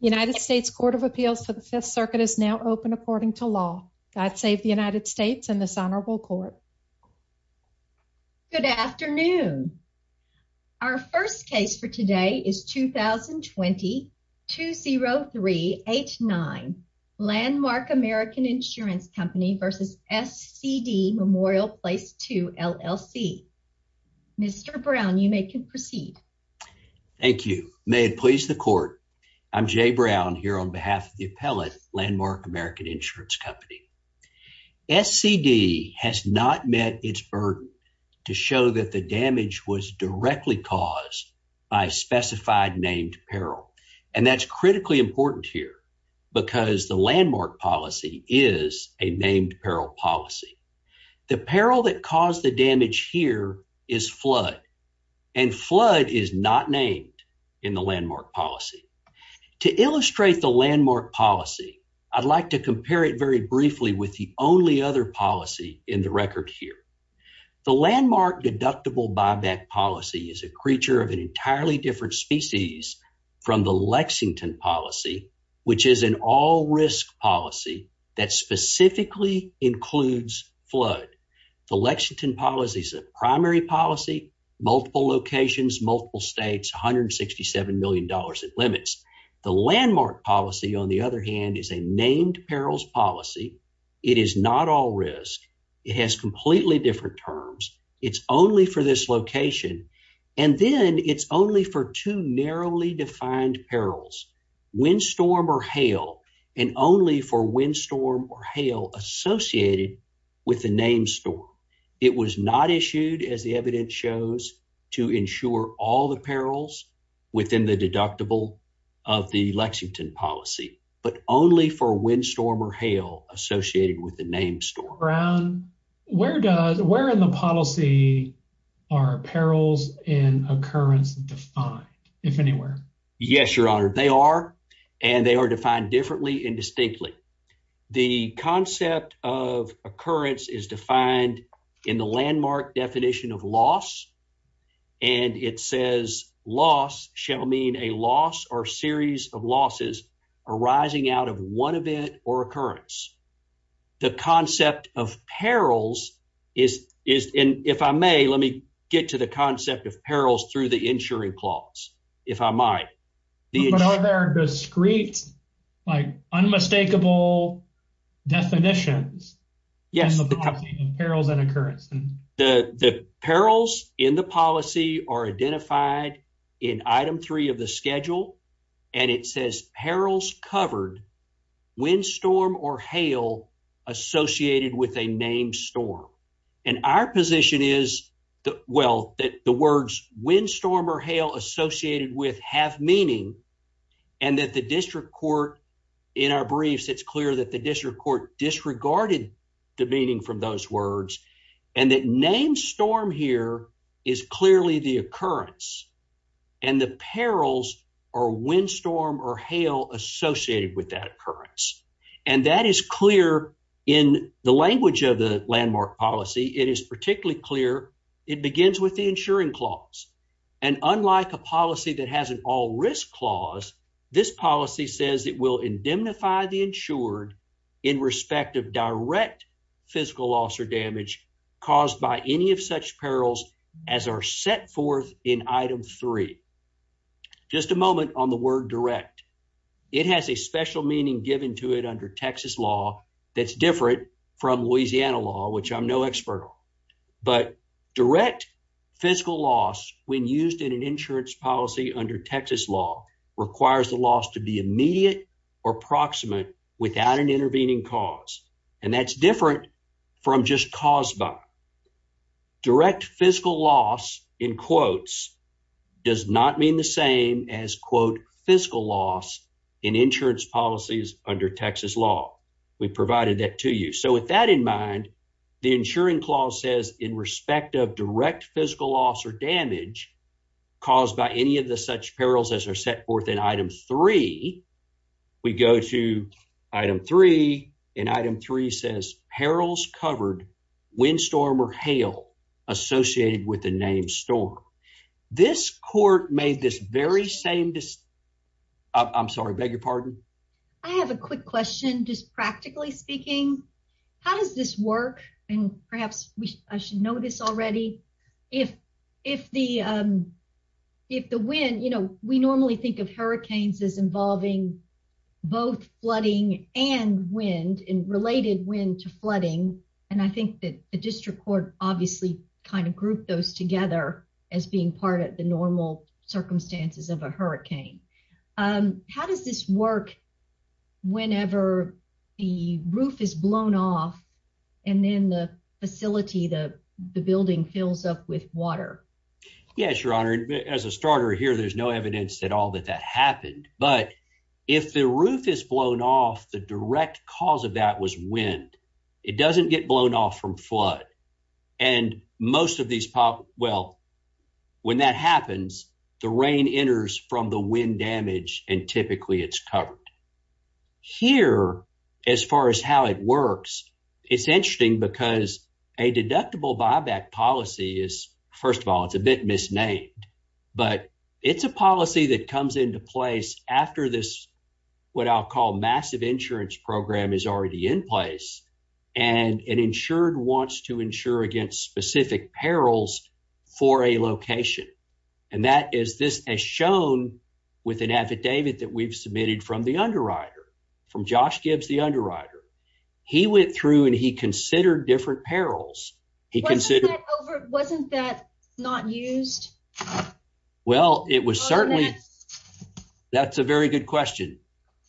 United States Court of Appeals for the Fifth Circuit is now open according to law. God save the United States and this honorable court. Good afternoon. Our first case for today is 2020-20389 Landmark American Insurance Company v. SCD Memorial Pl II LLC. Mr. Brown, you may proceed. Thank you. May it please the court, I'm Jay Brown here on behalf of the appellate Landmark American Insurance Company. SCD has not met its burden to show that the damage was directly caused by specified named peril and that's critically important here because the landmark policy is a named peril policy. The peril that caused the damage here is flood and flood is not named in the landmark policy. To illustrate the landmark policy, I'd like to compare it very briefly with the only other policy in the record here. The landmark deductible buyback policy is a creature of an entirely different species from the Lexington policy, which is an all-risk policy that specifically includes flood. The Lexington policy is a primary policy, multiple locations, multiple states, $167 million in limits. The landmark policy, on the other hand, is a named perils policy. It is not all risk. It has completely different terms. It's only for this location and then it's only for two narrowly defined perils, windstorm or hail, and only for windstorm or hail associated with the named storm. It was not issued, as the evidence shows, to ensure all the perils within the deductible of the Lexington policy, but only for windstorm or hail associated with the named storm. Brown, where does, where in the policy are perils and occurrence defined, if anywhere? Yes, Your Honor, they are, and they are defined differently and distinctly. The concept of occurrence is defined in the landmark definition of loss, and it says, loss shall mean a loss or series of losses arising out of one event or occurrence. The concept of perils is, and if I may, let me get to the concept of perils through the But are there discrete, like, unmistakable definitions in the policy of perils and occurrence? The perils in the policy are identified in item three of the schedule, and it says perils covered windstorm or hail associated with a named storm, and our position is, well, that the words windstorm or hail associated with have meaning, and that the district court, in our briefs, it's clear that the district court disregarded the meaning from those words, and that named storm here is clearly the occurrence, and the perils are windstorm or hail associated with that occurrence, and that is clear in the language of the landmark policy. It is particularly clear it begins with the insuring clause, and unlike a policy that has an all risk clause, this policy says it will indemnify the insured in respect of direct physical loss or damage caused by any of such perils as are set forth in item three. Just a moment on the word direct. It has a special meaning given to it under Texas law that's different from Louisiana law, which I'm no expert on, but direct fiscal loss when used in an insurance policy under Texas law requires the loss to be immediate or proximate without an intervening cause, and that's different from just caused by direct fiscal loss in quotes does not mean the same as quote fiscal loss in insurance policies under Texas law. We provided that to you. So with that in mind, the insuring clause says in respect of direct physical loss or damage caused by any of the such perils as are set forth in item three, we go to item three, and item three says perils covered windstorm or hail associated with just practically speaking, how does this work? And perhaps I should know this already. If the wind, we normally think of hurricanes as involving both flooding and wind and related wind to flooding, and I think that the district court obviously kind of grouped those together as being part of the normal circumstances of a hurricane. Um, how does this work whenever the roof is blown off and then the facility the building fills up with water? Yes, your honor. As a starter here, there's no evidence at all that that happened, but if the roof is blown off, the direct cause of that was wind. It doesn't get blown off from flood, and most of these pop. Well, when that happens, the rain enters from the wind damage, and typically it's covered here as far as how it works. It's interesting because a deductible buyback policy is first of all, it's a bit misnamed, but it's a policy that comes into this what I'll call massive insurance program is already in place, and an insured wants to insure against specific perils for a location, and that is this as shown with an affidavit that we've submitted from the underwriter, from Josh Gibbs, the underwriter. He went through and he That's a very good question.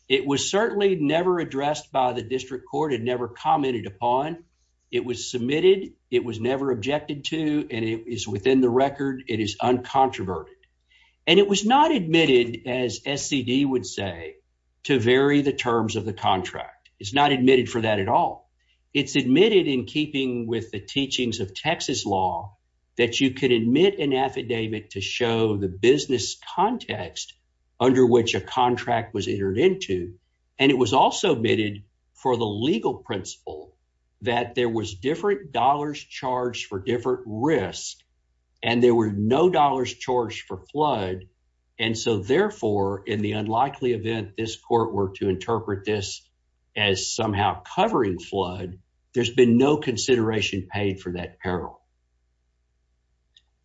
It was certainly never addressed by the district court and never commented upon. It was submitted. It was never objected to, and it is within the record. It is uncontroverted, and it was not admitted as SCD would say to vary the terms of the contract. It's not admitted for that at all. It's admitted in keeping with the teachings of Texas law that you can admit an affidavit to show the business context under which a contract was entered into, and it was also admitted for the legal principle that there was different dollars charged for different risks, and there were no dollars charged for flood, and so therefore, in the unlikely event this court were to interpret this as somehow covering flood, there's been no consideration paid for that peril.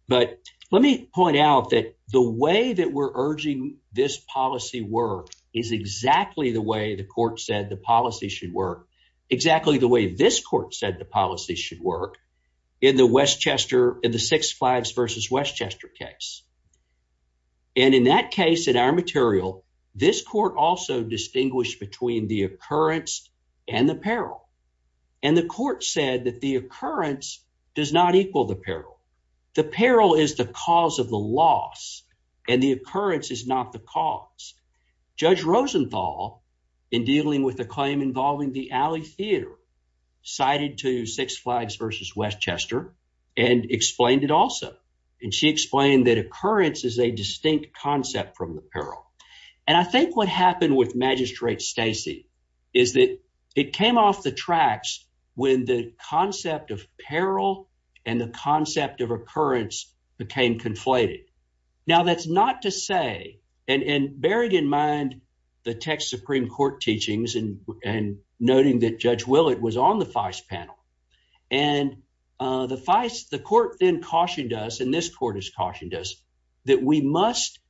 But let me point out that the way that we're urging this policy work is exactly the way the court said the policy should work, exactly the way this court said the policy should work in the Westchester in the Six Flags versus Westchester case. And in that case, in our and the court said that the occurrence does not equal the peril. The peril is the cause of the loss, and the occurrence is not the cause. Judge Rosenthal, in dealing with the claim involving the Alley Theater, cited to Six Flags versus Westchester and explained it also, and she explained that occurrence is a distinct concept from the peril. And I think what happened with when the concept of peril and the concept of occurrence became conflated. Now, that's not to say, and bearing in mind the Texas Supreme Court teachings and noting that Judge Willett was on the FICE panel, and the court then cautioned us, and this court has cautioned us, that we must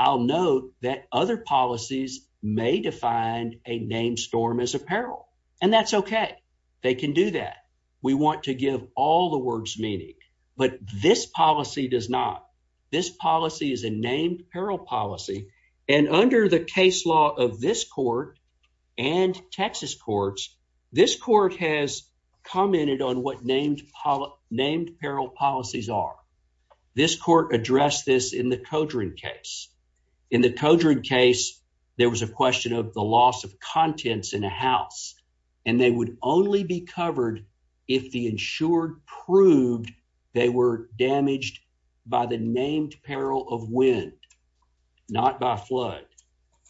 I'll note that other policies may define a named storm as a peril, and that's okay. They can do that. We want to give all the words meaning, but this policy does not. This policy is a named peril policy, and under the case law of this court and Texas courts, this court has In the Kodreg case, there was a question of the loss of contents in a house, and they would only be covered if the insured proved they were damaged by the named peril of wind, not by flood.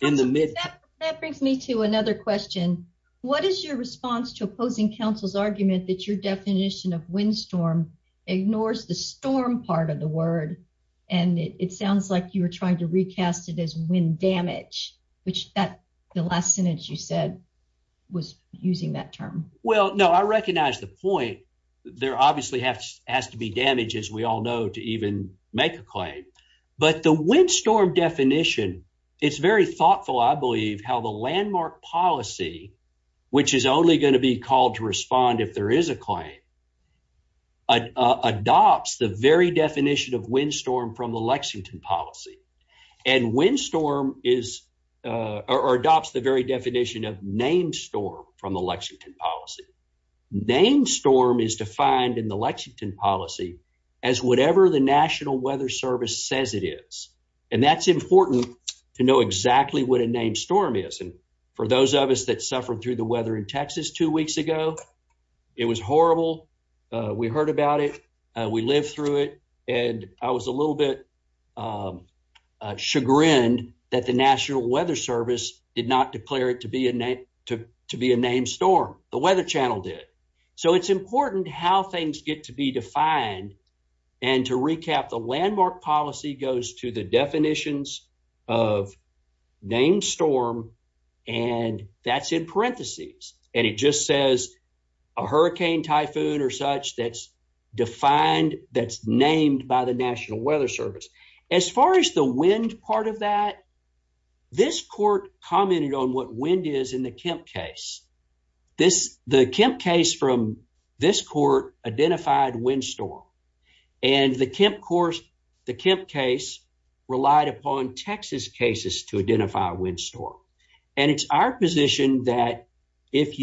That brings me to another question. What is your response to opposing counsel's argument that your definition of windstorm ignores the storm part of the word, and it sounds like you were trying to recast it as wind damage, which the last sentence you said was using that term. Well, no, I recognize the point. There obviously has to be damage, as we all know, to even make a claim, but the windstorm definition, it's very thoughtful, I believe, how the landmark policy, which is only going to be called to respond if there is a claim, adopts the very definition of windstorm from the Lexington policy, and windstorm is, or adopts the very definition of named storm from the Lexington policy. Named storm is defined in the Lexington policy as whatever the National Weather Service says it is, and that's important to know exactly what a named storm is, and for those of us that suffered through the weather in Texas two weeks ago, it was horrible. We heard about it. We lived through it, and I was a little bit chagrined that the National Weather Service did not declare it to be a named storm. The Weather Channel did. So it's important how things get to be defined, and to recap, the landmark policy goes to the definitions of named storm, and that's in parentheses, and it just says a hurricane, typhoon, or such that's defined, that's named by the National Weather Service. As far as the wind part of that, this court commented on what wind is in the Kemp case. The Kemp case from this court identified windstorm, and the Kemp course, the Kemp case relied upon Texas cases to identify windstorm, and it's our position that if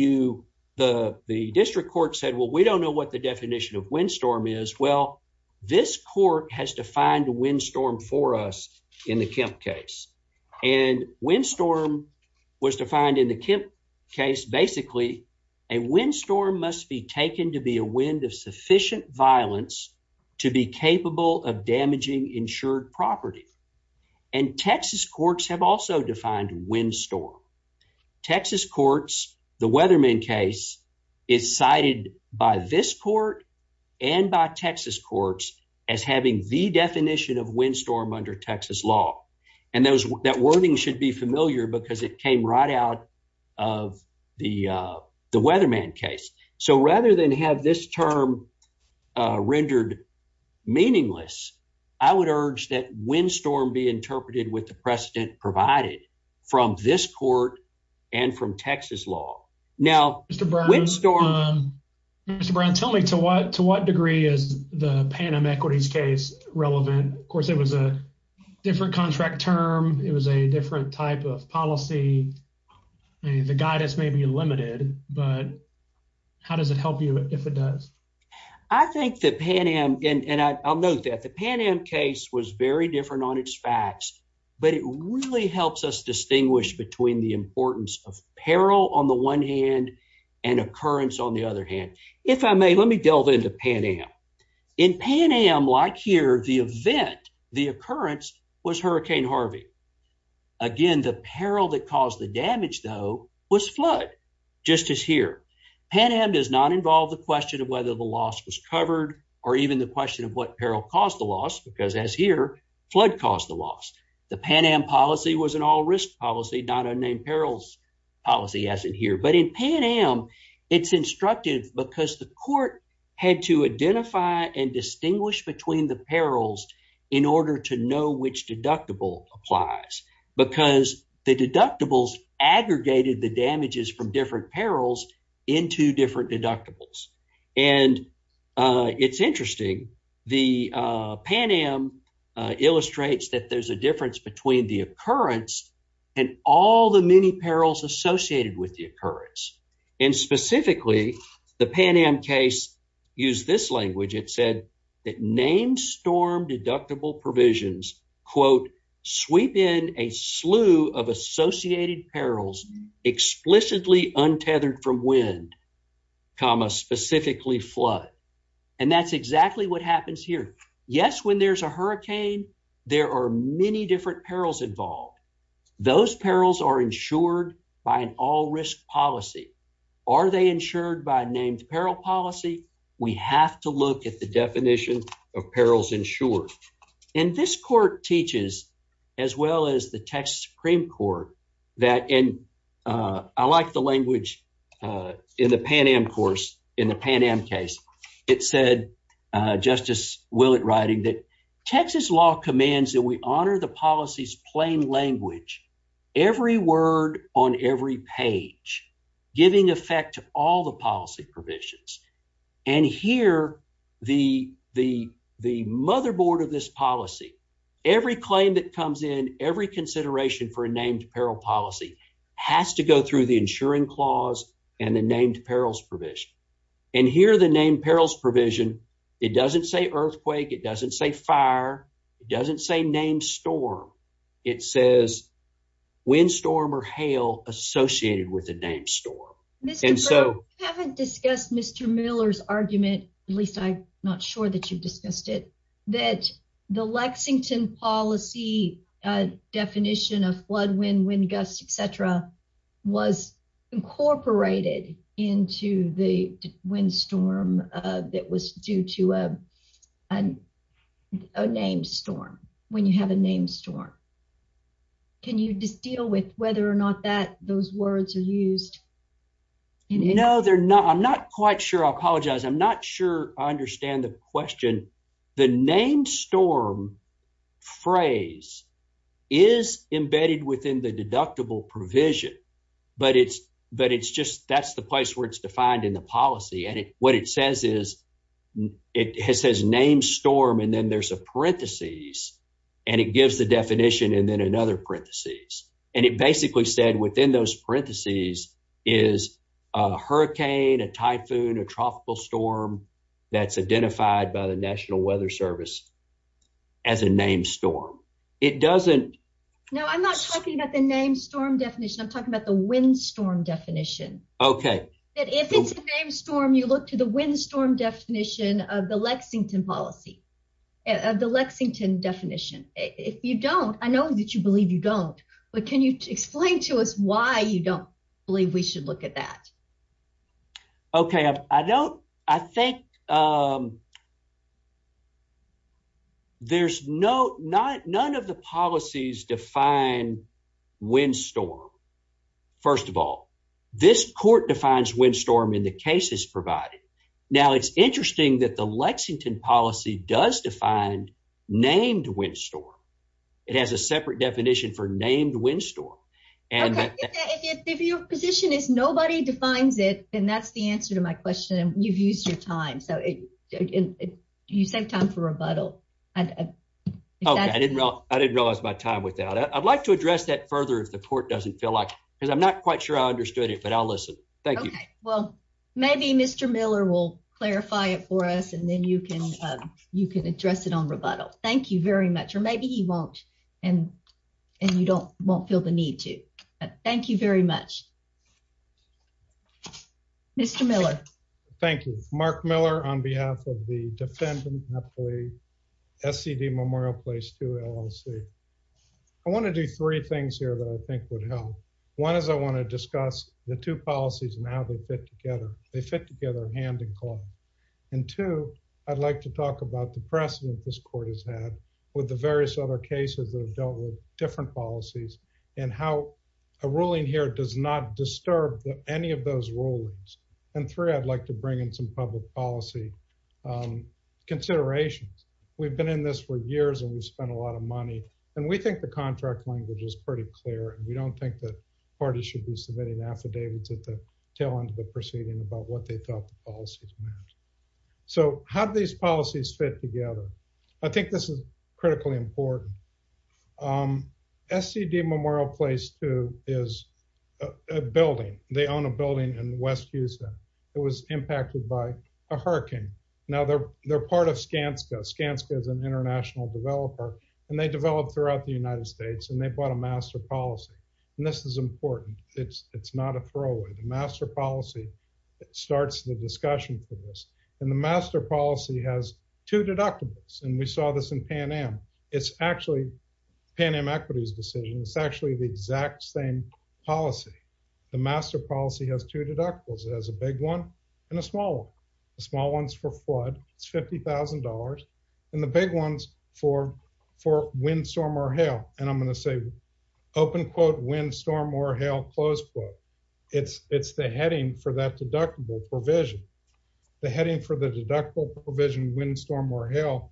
the district court said, well, we don't know what the definition of windstorm is, well, this court has defined windstorm for us in the Kemp case, and windstorm was defined in the Kemp case. Basically, a windstorm must be taken to be a wind of sufficient violence to be capable of damaging insured property, and Texas courts have also defined windstorm. Texas courts, the Weatherman case is cited by this court and by Texas courts as having the definition of windstorm under Texas law, and that wording should be familiar because it came right out of the Weatherman case. So rather than have this term rendered meaningless, I would urge that windstorm be interpreted with the precedent provided from this court and from Texas law. Now, windstorm... Mr. Brown, tell me, to what degree is the Pan Am equities case relevant? Of course, it was a different contract term. It was a different type of policy. The guidance may be limited, but how does it help you if it does? I think the Pan Am, and I'll note that the Pan Am case was very different on its facts, but it really helps us distinguish between the importance of peril on the one hand and occurrence on the other hand. If I may, let me delve into Pan Am. In Pan Am, like here, the event, the occurrence was Hurricane Harvey. Again, the peril that caused the damage, though, was flood, just as here. Pan Am does not involve the question of whether the caused the loss because, as here, flood caused the loss. The Pan Am policy was an all-risk policy, not a named perils policy, as in here. But in Pan Am, it's instructive because the court had to identify and distinguish between the perils in order to know which deductible applies because the deductibles aggregated the damages from different perils into different deductibles. And it's interesting. The Pan Am illustrates that there's a difference between the occurrence and all the many perils associated with the occurrence. And specifically, the Pan Am case used this language. It said that named storm deductible provisions, quote, sweep in a slew of associated perils explicitly untethered from wind, comma, specifically flood. And that's exactly what happens here. Yes, when there's a hurricane, there are many different perils involved. Those perils are insured by an all-risk policy. Are they insured by a named peril policy? We have to look at the definition of perils insured. And this court teaches as well as the Texas Supreme Court that, and I like the language in the Pan Am course, in the Pan Am case, it said, Justice Willett writing, that Texas law commands that we honor the policy's plain language, every word on every page, giving effect to all the policy provisions. And here, the motherboard of this policy, every claim that comes in, every consideration for a named peril policy has to go through the insuring clause and the named perils provision. And here, the named perils provision, it doesn't say earthquake. It doesn't say fire. It doesn't say named storm. It says wind storm or hail associated with the named storm. Mr. Burke, you haven't discussed Mr. Miller's argument, at least I'm not sure that you've discussed it, that the Lexington policy definition of flood, wind, wind gust, et cetera, was incorporated into the wind storm that was due to a named storm, when you have a named storm. Can you just deal with whether or not that those words are used? No, they're not. I'm not quite sure. I apologize. I'm not sure I understand the question. The named storm phrase is embedded within the deductible provision, but it's just, that's the place where it's defined in the policy. And what it says is, it says named storm, and then there's a parentheses, and it gives the definition, and then another parentheses. And it basically said within those parentheses is a hurricane, a typhoon, a tropical storm that's identified by the National Weather Service as a named storm. It doesn't- No, I'm not talking about the named storm definition. I'm talking about the wind storm definition. Okay. If it's a named storm, you look to the wind storm definition of the Lexington policy, of the Lexington definition. If you don't, I know that you believe you don't, but can you explain to us why you don't believe we should look at that? Okay. I don't, I think there's no, none of the policies define wind storm. First of all, this court defines wind storm. Now, it's interesting that the Lexington policy does define named wind storm. It has a separate definition for named wind storm. Okay, if your position is nobody defines it, then that's the answer to my question. You've used your time, so you save time for rebuttal. I didn't realize my time without it. I'd like to address that further if the court doesn't feel like, because I'm not sure I understood it, but I'll listen. Thank you. Okay, well, maybe Mr. Miller will clarify it for us, and then you can address it on rebuttal. Thank you very much, or maybe he won't, and you don't, won't feel the need to, but thank you very much. Mr. Miller. Thank you. Mark Miller on behalf of the defendant, SCD Memorial Place 2 LLC. I want to do three things here that I think would help. One is I want to discuss the two policies and how they fit together. They fit together hand and claw, and two, I'd like to talk about the precedent this court has had with the various other cases that have dealt with different policies and how a ruling here does not disturb any of those rulings, and three, I'd like to bring in some public policy considerations. We've been in this for years, and we've spent a lot of time talking about it, and we think the contract language is pretty clear, and we don't think that parties should be submitting affidavits at the tail end of the proceeding about what they felt the policies meant. So, how do these policies fit together? I think this is critically important. SCD Memorial Place 2 is a building. They own a building in West Houston. It was impacted by a flood throughout the United States, and they bought a master policy, and this is important. It's not a throwaway. The master policy starts the discussion for this, and the master policy has two deductibles, and we saw this in Pan Am. It's actually Pan Am equities decision. It's actually the exact same policy. The master policy has two deductibles. It has a big one and a small one. It's $50,000, and the big one's for wind, storm, or hail, and I'm going to say open quote, wind, storm, or hail, close quote. It's the heading for that deductible provision. The heading for the deductible provision, wind, storm, or hail,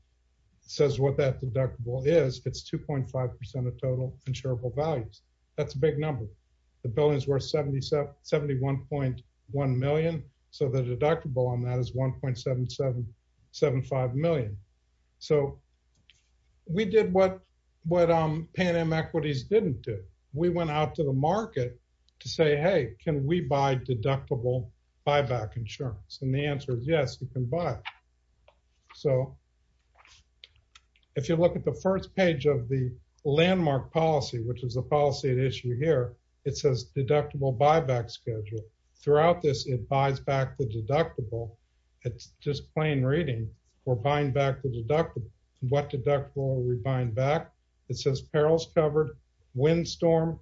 says what that deductible is. It's 2.5% of total insurable values. That's a big number. The building's worth $71.1 million, so the deductible on that is $1.775 million. We did what Pan Am equities didn't do. We went out to the market to say, hey, can we buy deductible buyback insurance? The answer is yes, you can buy. If you look at the first page of the landmark policy, which is the policy at issue here, it says deductible buyback schedule. Throughout this, it buys back the deductible. It's just plain reading. We're buying back the deductible. What deductible are we buying back? It says perils covered, wind, storm,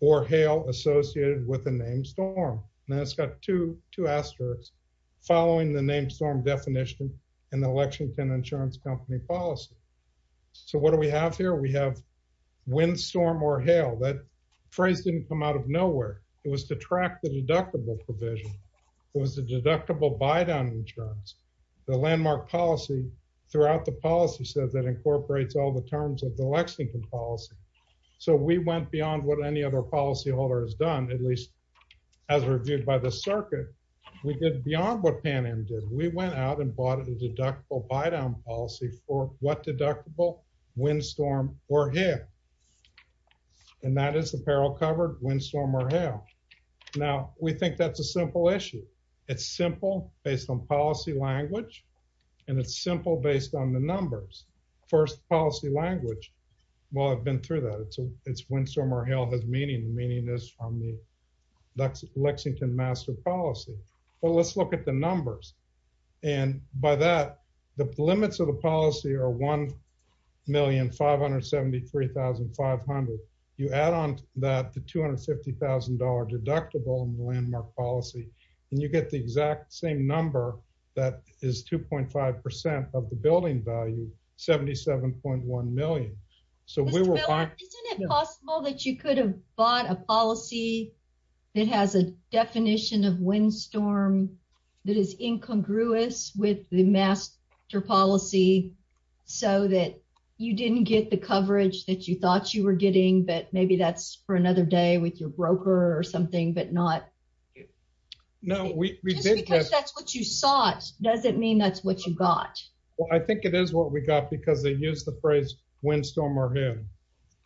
or hail associated with the name storm, and it's got two asterisks following the name storm definition in the Lexington Insurance Company policy. What do we have here? We have wind, storm, or hail. That phrase didn't come out of nowhere. It was to track the deductible provision. It was the deductible buydown insurance. The landmark policy throughout the policy says that incorporates all the terms of the Lexington policy. We went beyond what any other policyholder has done, at least as reviewed by the circuit. We did beyond what Pan Am did. We went out and bought a deductible buydown policy for what deductible, wind, storm, or hail, and that is the peril covered, wind, storm, or hail. Now, we think that's a simple issue. It's simple based on policy language, and it's simple based on the numbers. First, policy language. Well, I've been through that. It's wind, storm, or hail has meaning. The meaning is from the Lexington master policy. Let's look at the numbers. By that, the limits of the policy are $1,573,500. You add on that the $250,000 deductible in the landmark policy, and you get the exact same number that is 2.5% of the building value, $77.1 million. Mr. Miller, isn't it possible that you could have bought a policy that has a definition of wind, storm that is incongruous with the master policy so that you didn't get the coverage that you thought you were getting, but maybe that's for another day with your broker or something, but not... Just because that's what you sought doesn't mean that's what you got. Well, I think it is what we got because they use the phrase wind, storm, or hail,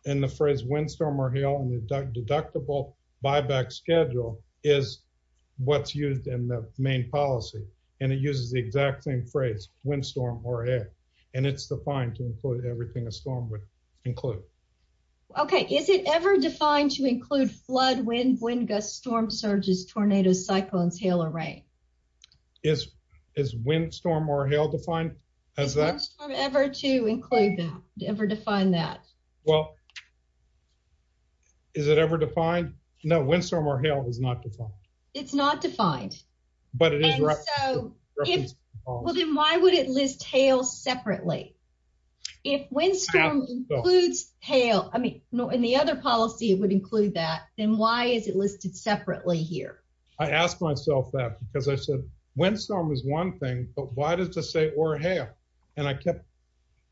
and the phrase wind, storm, or hail in the deductible buyback schedule is what's used in the main policy, and it uses the exact same phrase, wind, storm, or hail, and it's defined to include everything a storm would include. Okay. Is it ever defined to include flood, wind, wind gusts, storm surges, tornadoes, cyclones, hail, or rain? Is wind, storm, or hail defined as that? Is wind, storm ever to include that, ever define that? Well, is it ever defined? No, wind, storm, or hail is not defined. It's not defined. But it is... Well, then why would it list hail separately? If wind, storm includes hail, I mean, in the other policy it would include that, then why is it listed separately here? I asked myself that because I said, wind, storm is one thing, but why does it say or hail? And I kept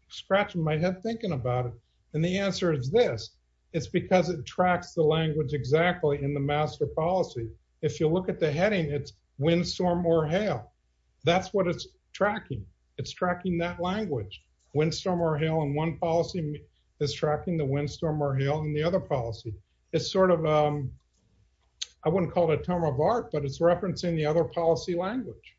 scratching my head thinking about it, and the answer is this. It's because it tracks the language exactly in the master policy. If you look at the heading, it's wind, storm, or hail. That's what it's tracking. It's tracking that language. Wind, storm, or hail in one policy is tracking the wind, storm, or hail in the other policy. It's sort of... I wouldn't call it a term of art, but it's referencing the other policy language.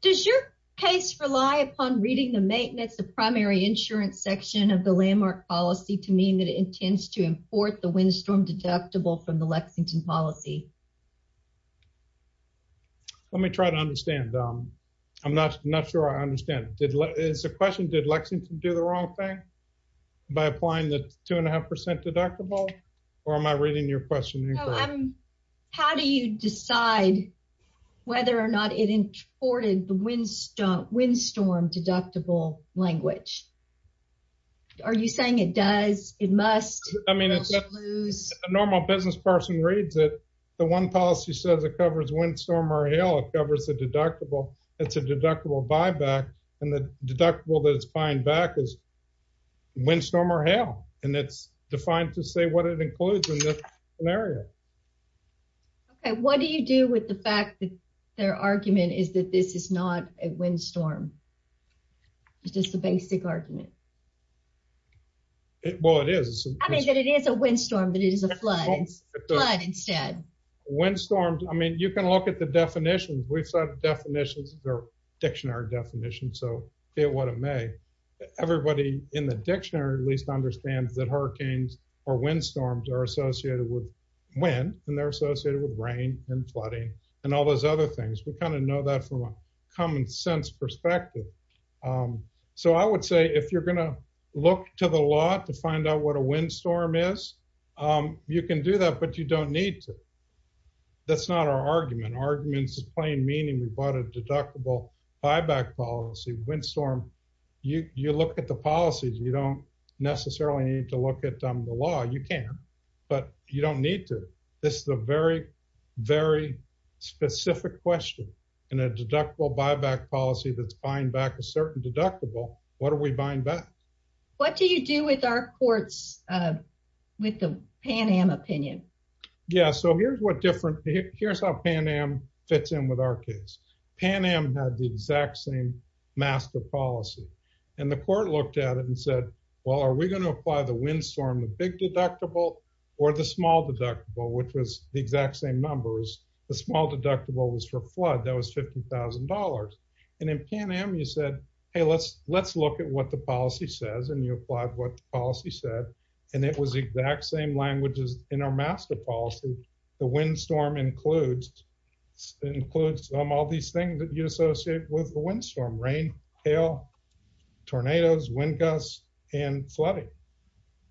Does your case rely upon reading the maintenance of primary insurance section of the landmark policy to mean that it intends to import the wind, storm deductible from the Lexington policy? Let me try to understand. I'm not sure I understand. It's a question, did Lexington do the wrong thing by applying the two and a half percent deductible, or am I reading your question incorrectly? How do you decide whether or not it imported the wind, storm deductible language? Are you saying it does? It must? A normal business person reads it. The one policy says it covers wind, storm, or hail. It covers the deductible. It's a deductible buyback, and the deductible that it includes in this scenario. Okay, what do you do with the fact that their argument is that this is not a wind, storm? It's just a basic argument. Well, it is. I mean, that it is a wind, storm, but it is a flood instead. Wind, storm, I mean, you can look at the definitions. We've said definitions are dictionary definitions, so be it what it may. Everybody in the dictionary at least understands that hurricanes or wind storms are associated with wind, and they're associated with rain and flooding and all those other things. We kind of know that from a common sense perspective. So, I would say if you're going to look to the law to find out what a wind, storm is, you can do that, but you don't need to. That's not our argument. Arguments is plain meaning. We look at the policies. You don't necessarily need to look at the law. You can, but you don't need to. This is a very, very specific question in a deductible buyback policy that's buying back a certain deductible. What are we buying back? What do you do with our courts with the Pan Am opinion? Yeah, so here's what different. Here's how Pan Am fits in with our case. Pan Am had the exact same master policy, and the court looked at it and said, well, are we going to apply the wind storm, the big deductible, or the small deductible, which was the exact same numbers? The small deductible was for flood. That was $50,000, and in Pan Am you said, hey, let's look at what the policy says, and you applied what the policy said, and it was the exact same language as in our master policy. The wind storm includes all these things that you associate with the wind storm, rain, hail, tornadoes, wind gusts, and flooding.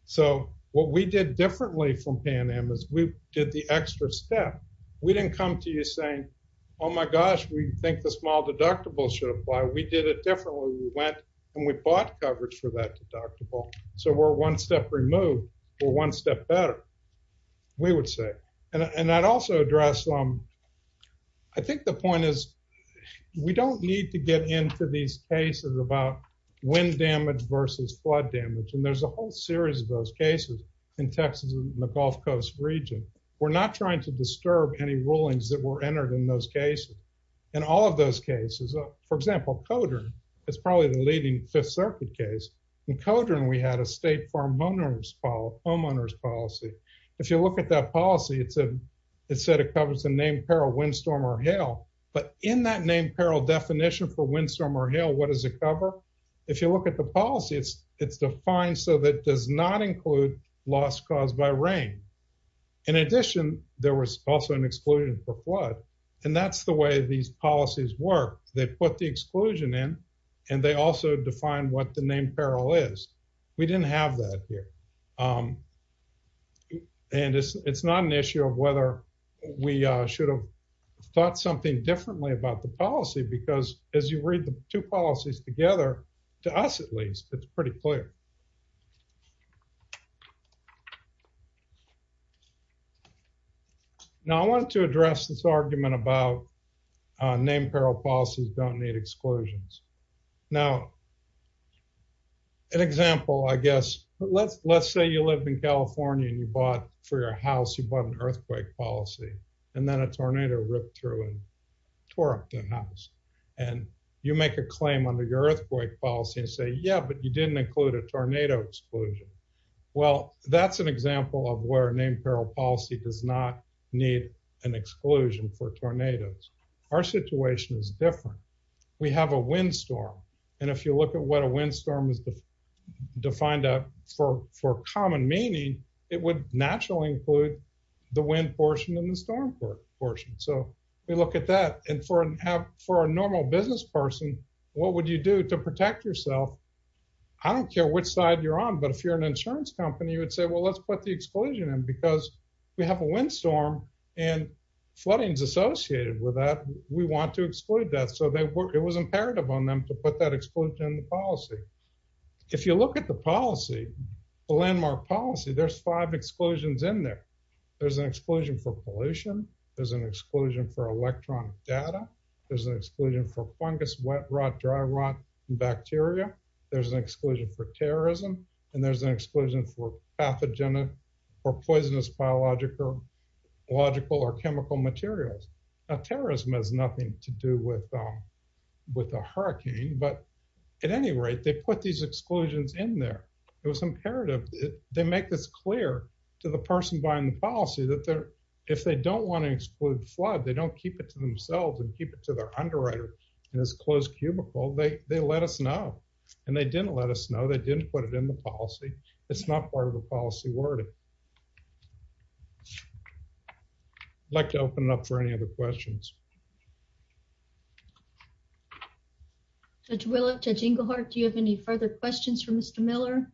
So what we did differently from Pan Am is we did the extra step. We didn't come to you saying, oh my gosh, we think the small deductible should apply. We did it differently. We went and we bought coverage for that deductible, so we're one step removed. We're one step better, we would say, and I'd also address, I think the point is we don't need to get into these cases about wind damage versus flood damage, and there's a whole series of those cases in Texas and the Gulf Coast region. We're not trying to disturb any rulings that were entered in those cases. In all of those cases, for example, Codern is probably the leading Fifth Circuit case. In Codern, we had a state homeowners policy. If you look at that policy, it said it covers the named peril, wind storm, or hail, but in that named peril definition for wind storm or hail, what does it cover? If you look at the policy, it's defined so that it does not include loss caused by rain. In addition, there was also an exclusion for flood, and that's the way these policies work. They put the exclusion in, and they also define what the named peril is. We didn't have that here, and it's not an issue of whether we should have thought something differently about the policy because as you read the two policies together, to us at least, it's pretty clear. Now, I wanted to address this argument about named peril policies don't need exclusions. Now, an example, I guess, let's say you live in California, and for your house, you bought an earthquake policy, and then a tornado ripped through and tore up the house, and you make a claim under your earthquake policy and say, yeah, but you didn't include a tornado exclusion. Well, that's an example of where a named peril policy does not need an exclusion for tornadoes. Our situation is different. We have a windstorm, and if you look at what a windstorm is defined for common meaning, it would naturally include the wind portion and the storm portion. So, we look at that, and for a normal business person, what would you do to protect yourself? I don't care which side you're on, but if you're an insurance company, you would let's put the exclusion in because we have a windstorm, and flooding is associated with that. We want to exclude that. So, it was imperative on them to put that exclusion in the policy. If you look at the policy, the landmark policy, there's five exclusions in there. There's an exclusion for pollution. There's an exclusion for electronic data. There's an exclusion for fungus, wet rot, dry rot, and bacteria. There's an exclusion for terrorism, and there's an exclusion for pathogenic or poisonous biological or chemical materials. Now, terrorism has nothing to do with the hurricane, but at any rate, they put these exclusions in there. It was imperative. They make this clear to the person buying the policy that if they don't want to exclude flood, they don't keep it to themselves and keep it to their underwriter in this closed cubicle. They let us know, and they didn't let us know. They didn't put it in the policy. It's not part of the policy wording. I'd like to open it up for any other questions. Judge Willa, Judge Englehart, do you have any further questions for Mr. Miller?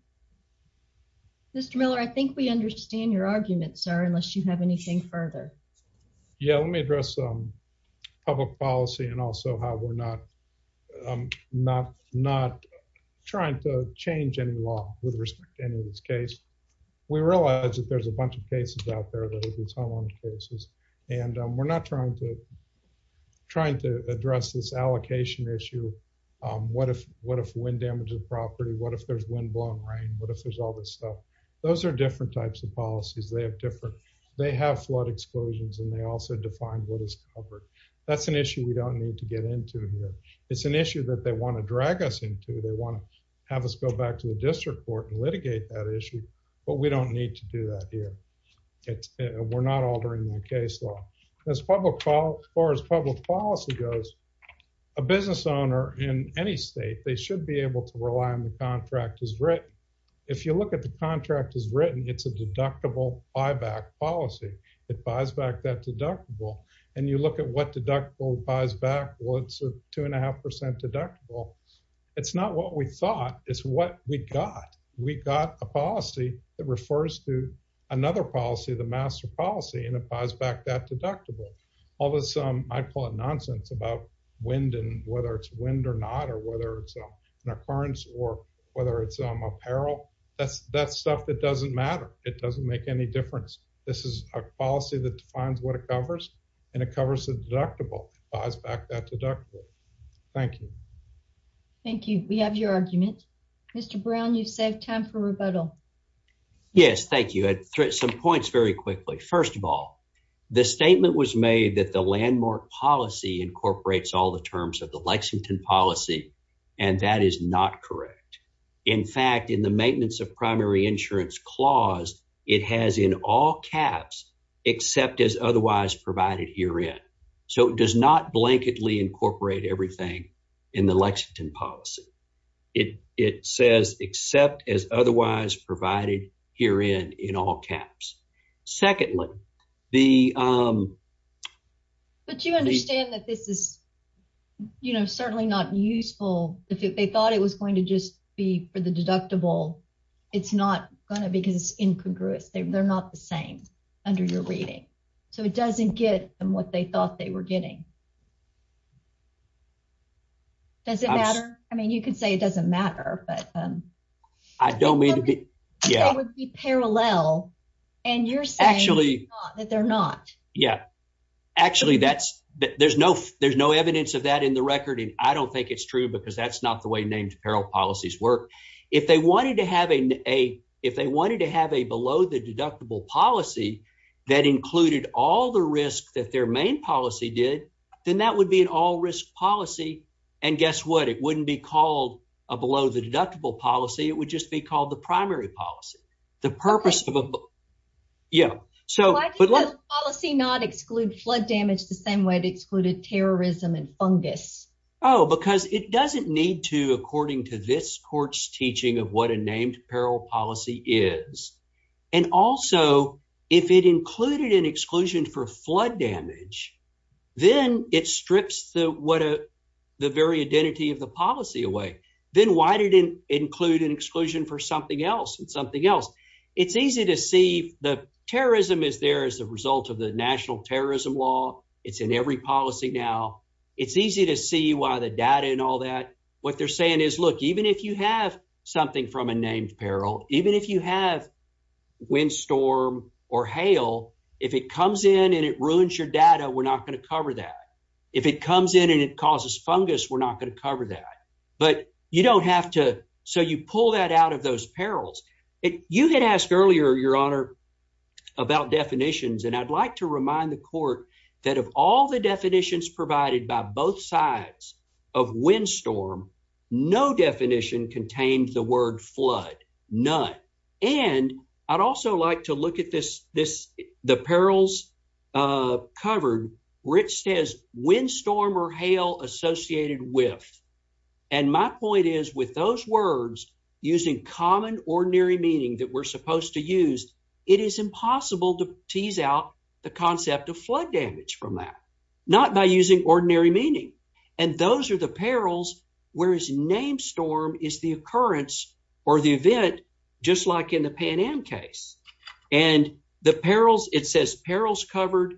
Mr. Miller, I think we understand your argument, sir, unless you have anything further. Yeah, let me address public policy and also how we're not trying to change any law with respect to any of this case. We realize that there's a bunch of cases out there that are these high water cases, and we're not trying to address this allocation issue. What if wind damage is property? What if there's windblown rain? What if there's all this stuff? Those are different types of policies. They have flood exclusions, and they also define what is covered. That's an issue we don't need to get into here. It's an issue that they want to drag us into. They want to have us go back to the district court and litigate that issue, but we don't need to do that here. We're not altering the case law. As far as public policy goes, a business owner in any state, they should be able to rely on the contract as written. If you look at the contract as written, it's a deductible buyback policy. It buys back that deductible, and you look at what deductible buys back. Well, it's a two and a half percent deductible. It's not what we thought. It's what we got. We got a policy that refers to another policy, the master policy, and it buys back that deductible. All this, I call it nonsense about wind and whether it's wind or not or whether it's an occurrence or whether it's apparel. That's stuff that doesn't matter. It doesn't make any difference. This is a policy that defines what it covers, and it covers the deductible. It buys back that deductible. Thank you. Thank you. We have your argument. Mr. Brown, you've saved time for rebuttal. Yes, thank you. Some points very quickly. First of all, the statement was made that the is not correct. In fact, in the maintenance of primary insurance clause, it has in all caps, except as otherwise provided herein. So, it does not blanketly incorporate everything in the Lexington policy. It says except as otherwise provided herein in all caps. Secondly, the- But you understand that this is certainly not useful. If they thought it was going to just be for the deductible, it's not going to because it's incongruous. They're not the same under your reading. So, it doesn't get them what they thought they were getting. Does it matter? I mean, you could say it doesn't matter, but- I don't mean to be- It would be parallel, and you're saying that they're not. Yeah. Actually, there's no evidence of that in the record, and I don't think it's true because that's not the way named peril policies work. If they wanted to have a below the deductible policy that included all the risk that their main policy did, then that would be an all risk policy. And guess what? It wouldn't be called a below the deductible policy. It would just be called the primary policy. The purpose of a- Yeah. So- Why did the policy not exclude flood damage the same way it excluded terrorism and fungus? Oh, because it doesn't need to according to this court's teaching of what a named peril policy is. And also, if it included an exclusion for flood damage, then it strips the very identity of the policy away. Then why did it include an exclusion for something else and something else? It's easy to see the terrorism is there as a result of the national terrorism law. It's in every policy now. It's easy to see why the data and all that. What they're saying is, look, even if you have something from a named peril, even if you have windstorm or hail, if it comes in and it ruins your data, we're not going to cover that. If it comes in and it causes fungus, we're not going to cover that. But you don't have to. So you pull that out of those perils. You had asked earlier, Your Honor, about definitions. And I'd like to remind the court that of all the definitions provided by both sides of windstorm, no definition contained the word flood. None. And I'd also like to look at this, the perils covered, where it says windstorm or hail associated with. And my point is, with those words using common ordinary meaning that we're supposed to meaning. And those are the perils. Whereas name storm is the occurrence or the event, just like in the Pan Am case and the perils, it says perils covered,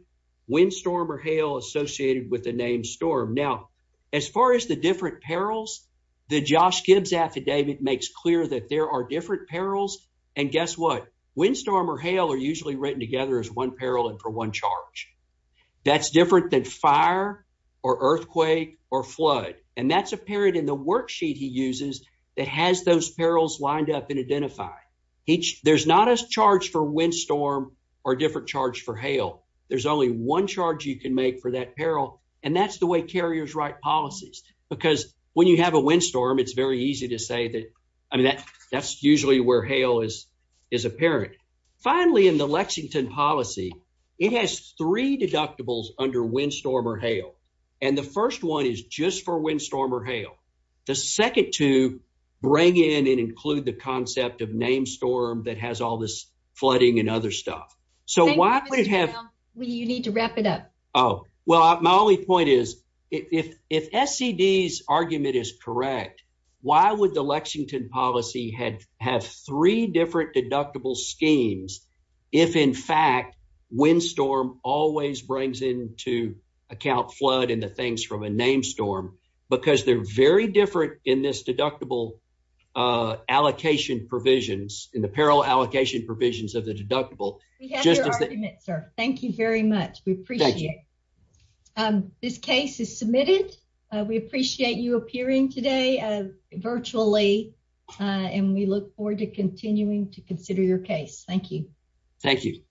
windstorm or hail associated with the name storm. Now, as far as the different perils, the Josh Gibbs affidavit makes clear that there are different perils. And guess what? Windstorm or hail are usually written together as one peril and for one charge. That's different than fire or earthquake or flood. And that's apparent in the worksheet he uses that has those perils lined up and identify each. There's not a charge for windstorm or different charge for hail. There's only one charge you can make for that peril, and that's the way carriers write policies. Because when you have a windstorm, it's very easy to say that. I mean, that that's usually where hail is is apparent. Finally, in the deductibles under windstorm or hail, and the first one is just for windstorm or hail, the second to bring in and include the concept of name storm that has all this flooding and other stuff. So why would it have? Well, you need to wrap it up. Oh, well, my only point is, if if S. C. D.'s argument is correct, why would the Lexington policy had have three different deductible schemes? If, in fact, windstorm always brings into account flood in the things from a name storm because they're very different in this deductible allocation provisions in the peril allocation provisions of the deductible. Thank you very much. We appreciate this case is submitted. We appreciate you appearing today virtually, and we look forward to continuing to consider your case. Thank you. Thank you.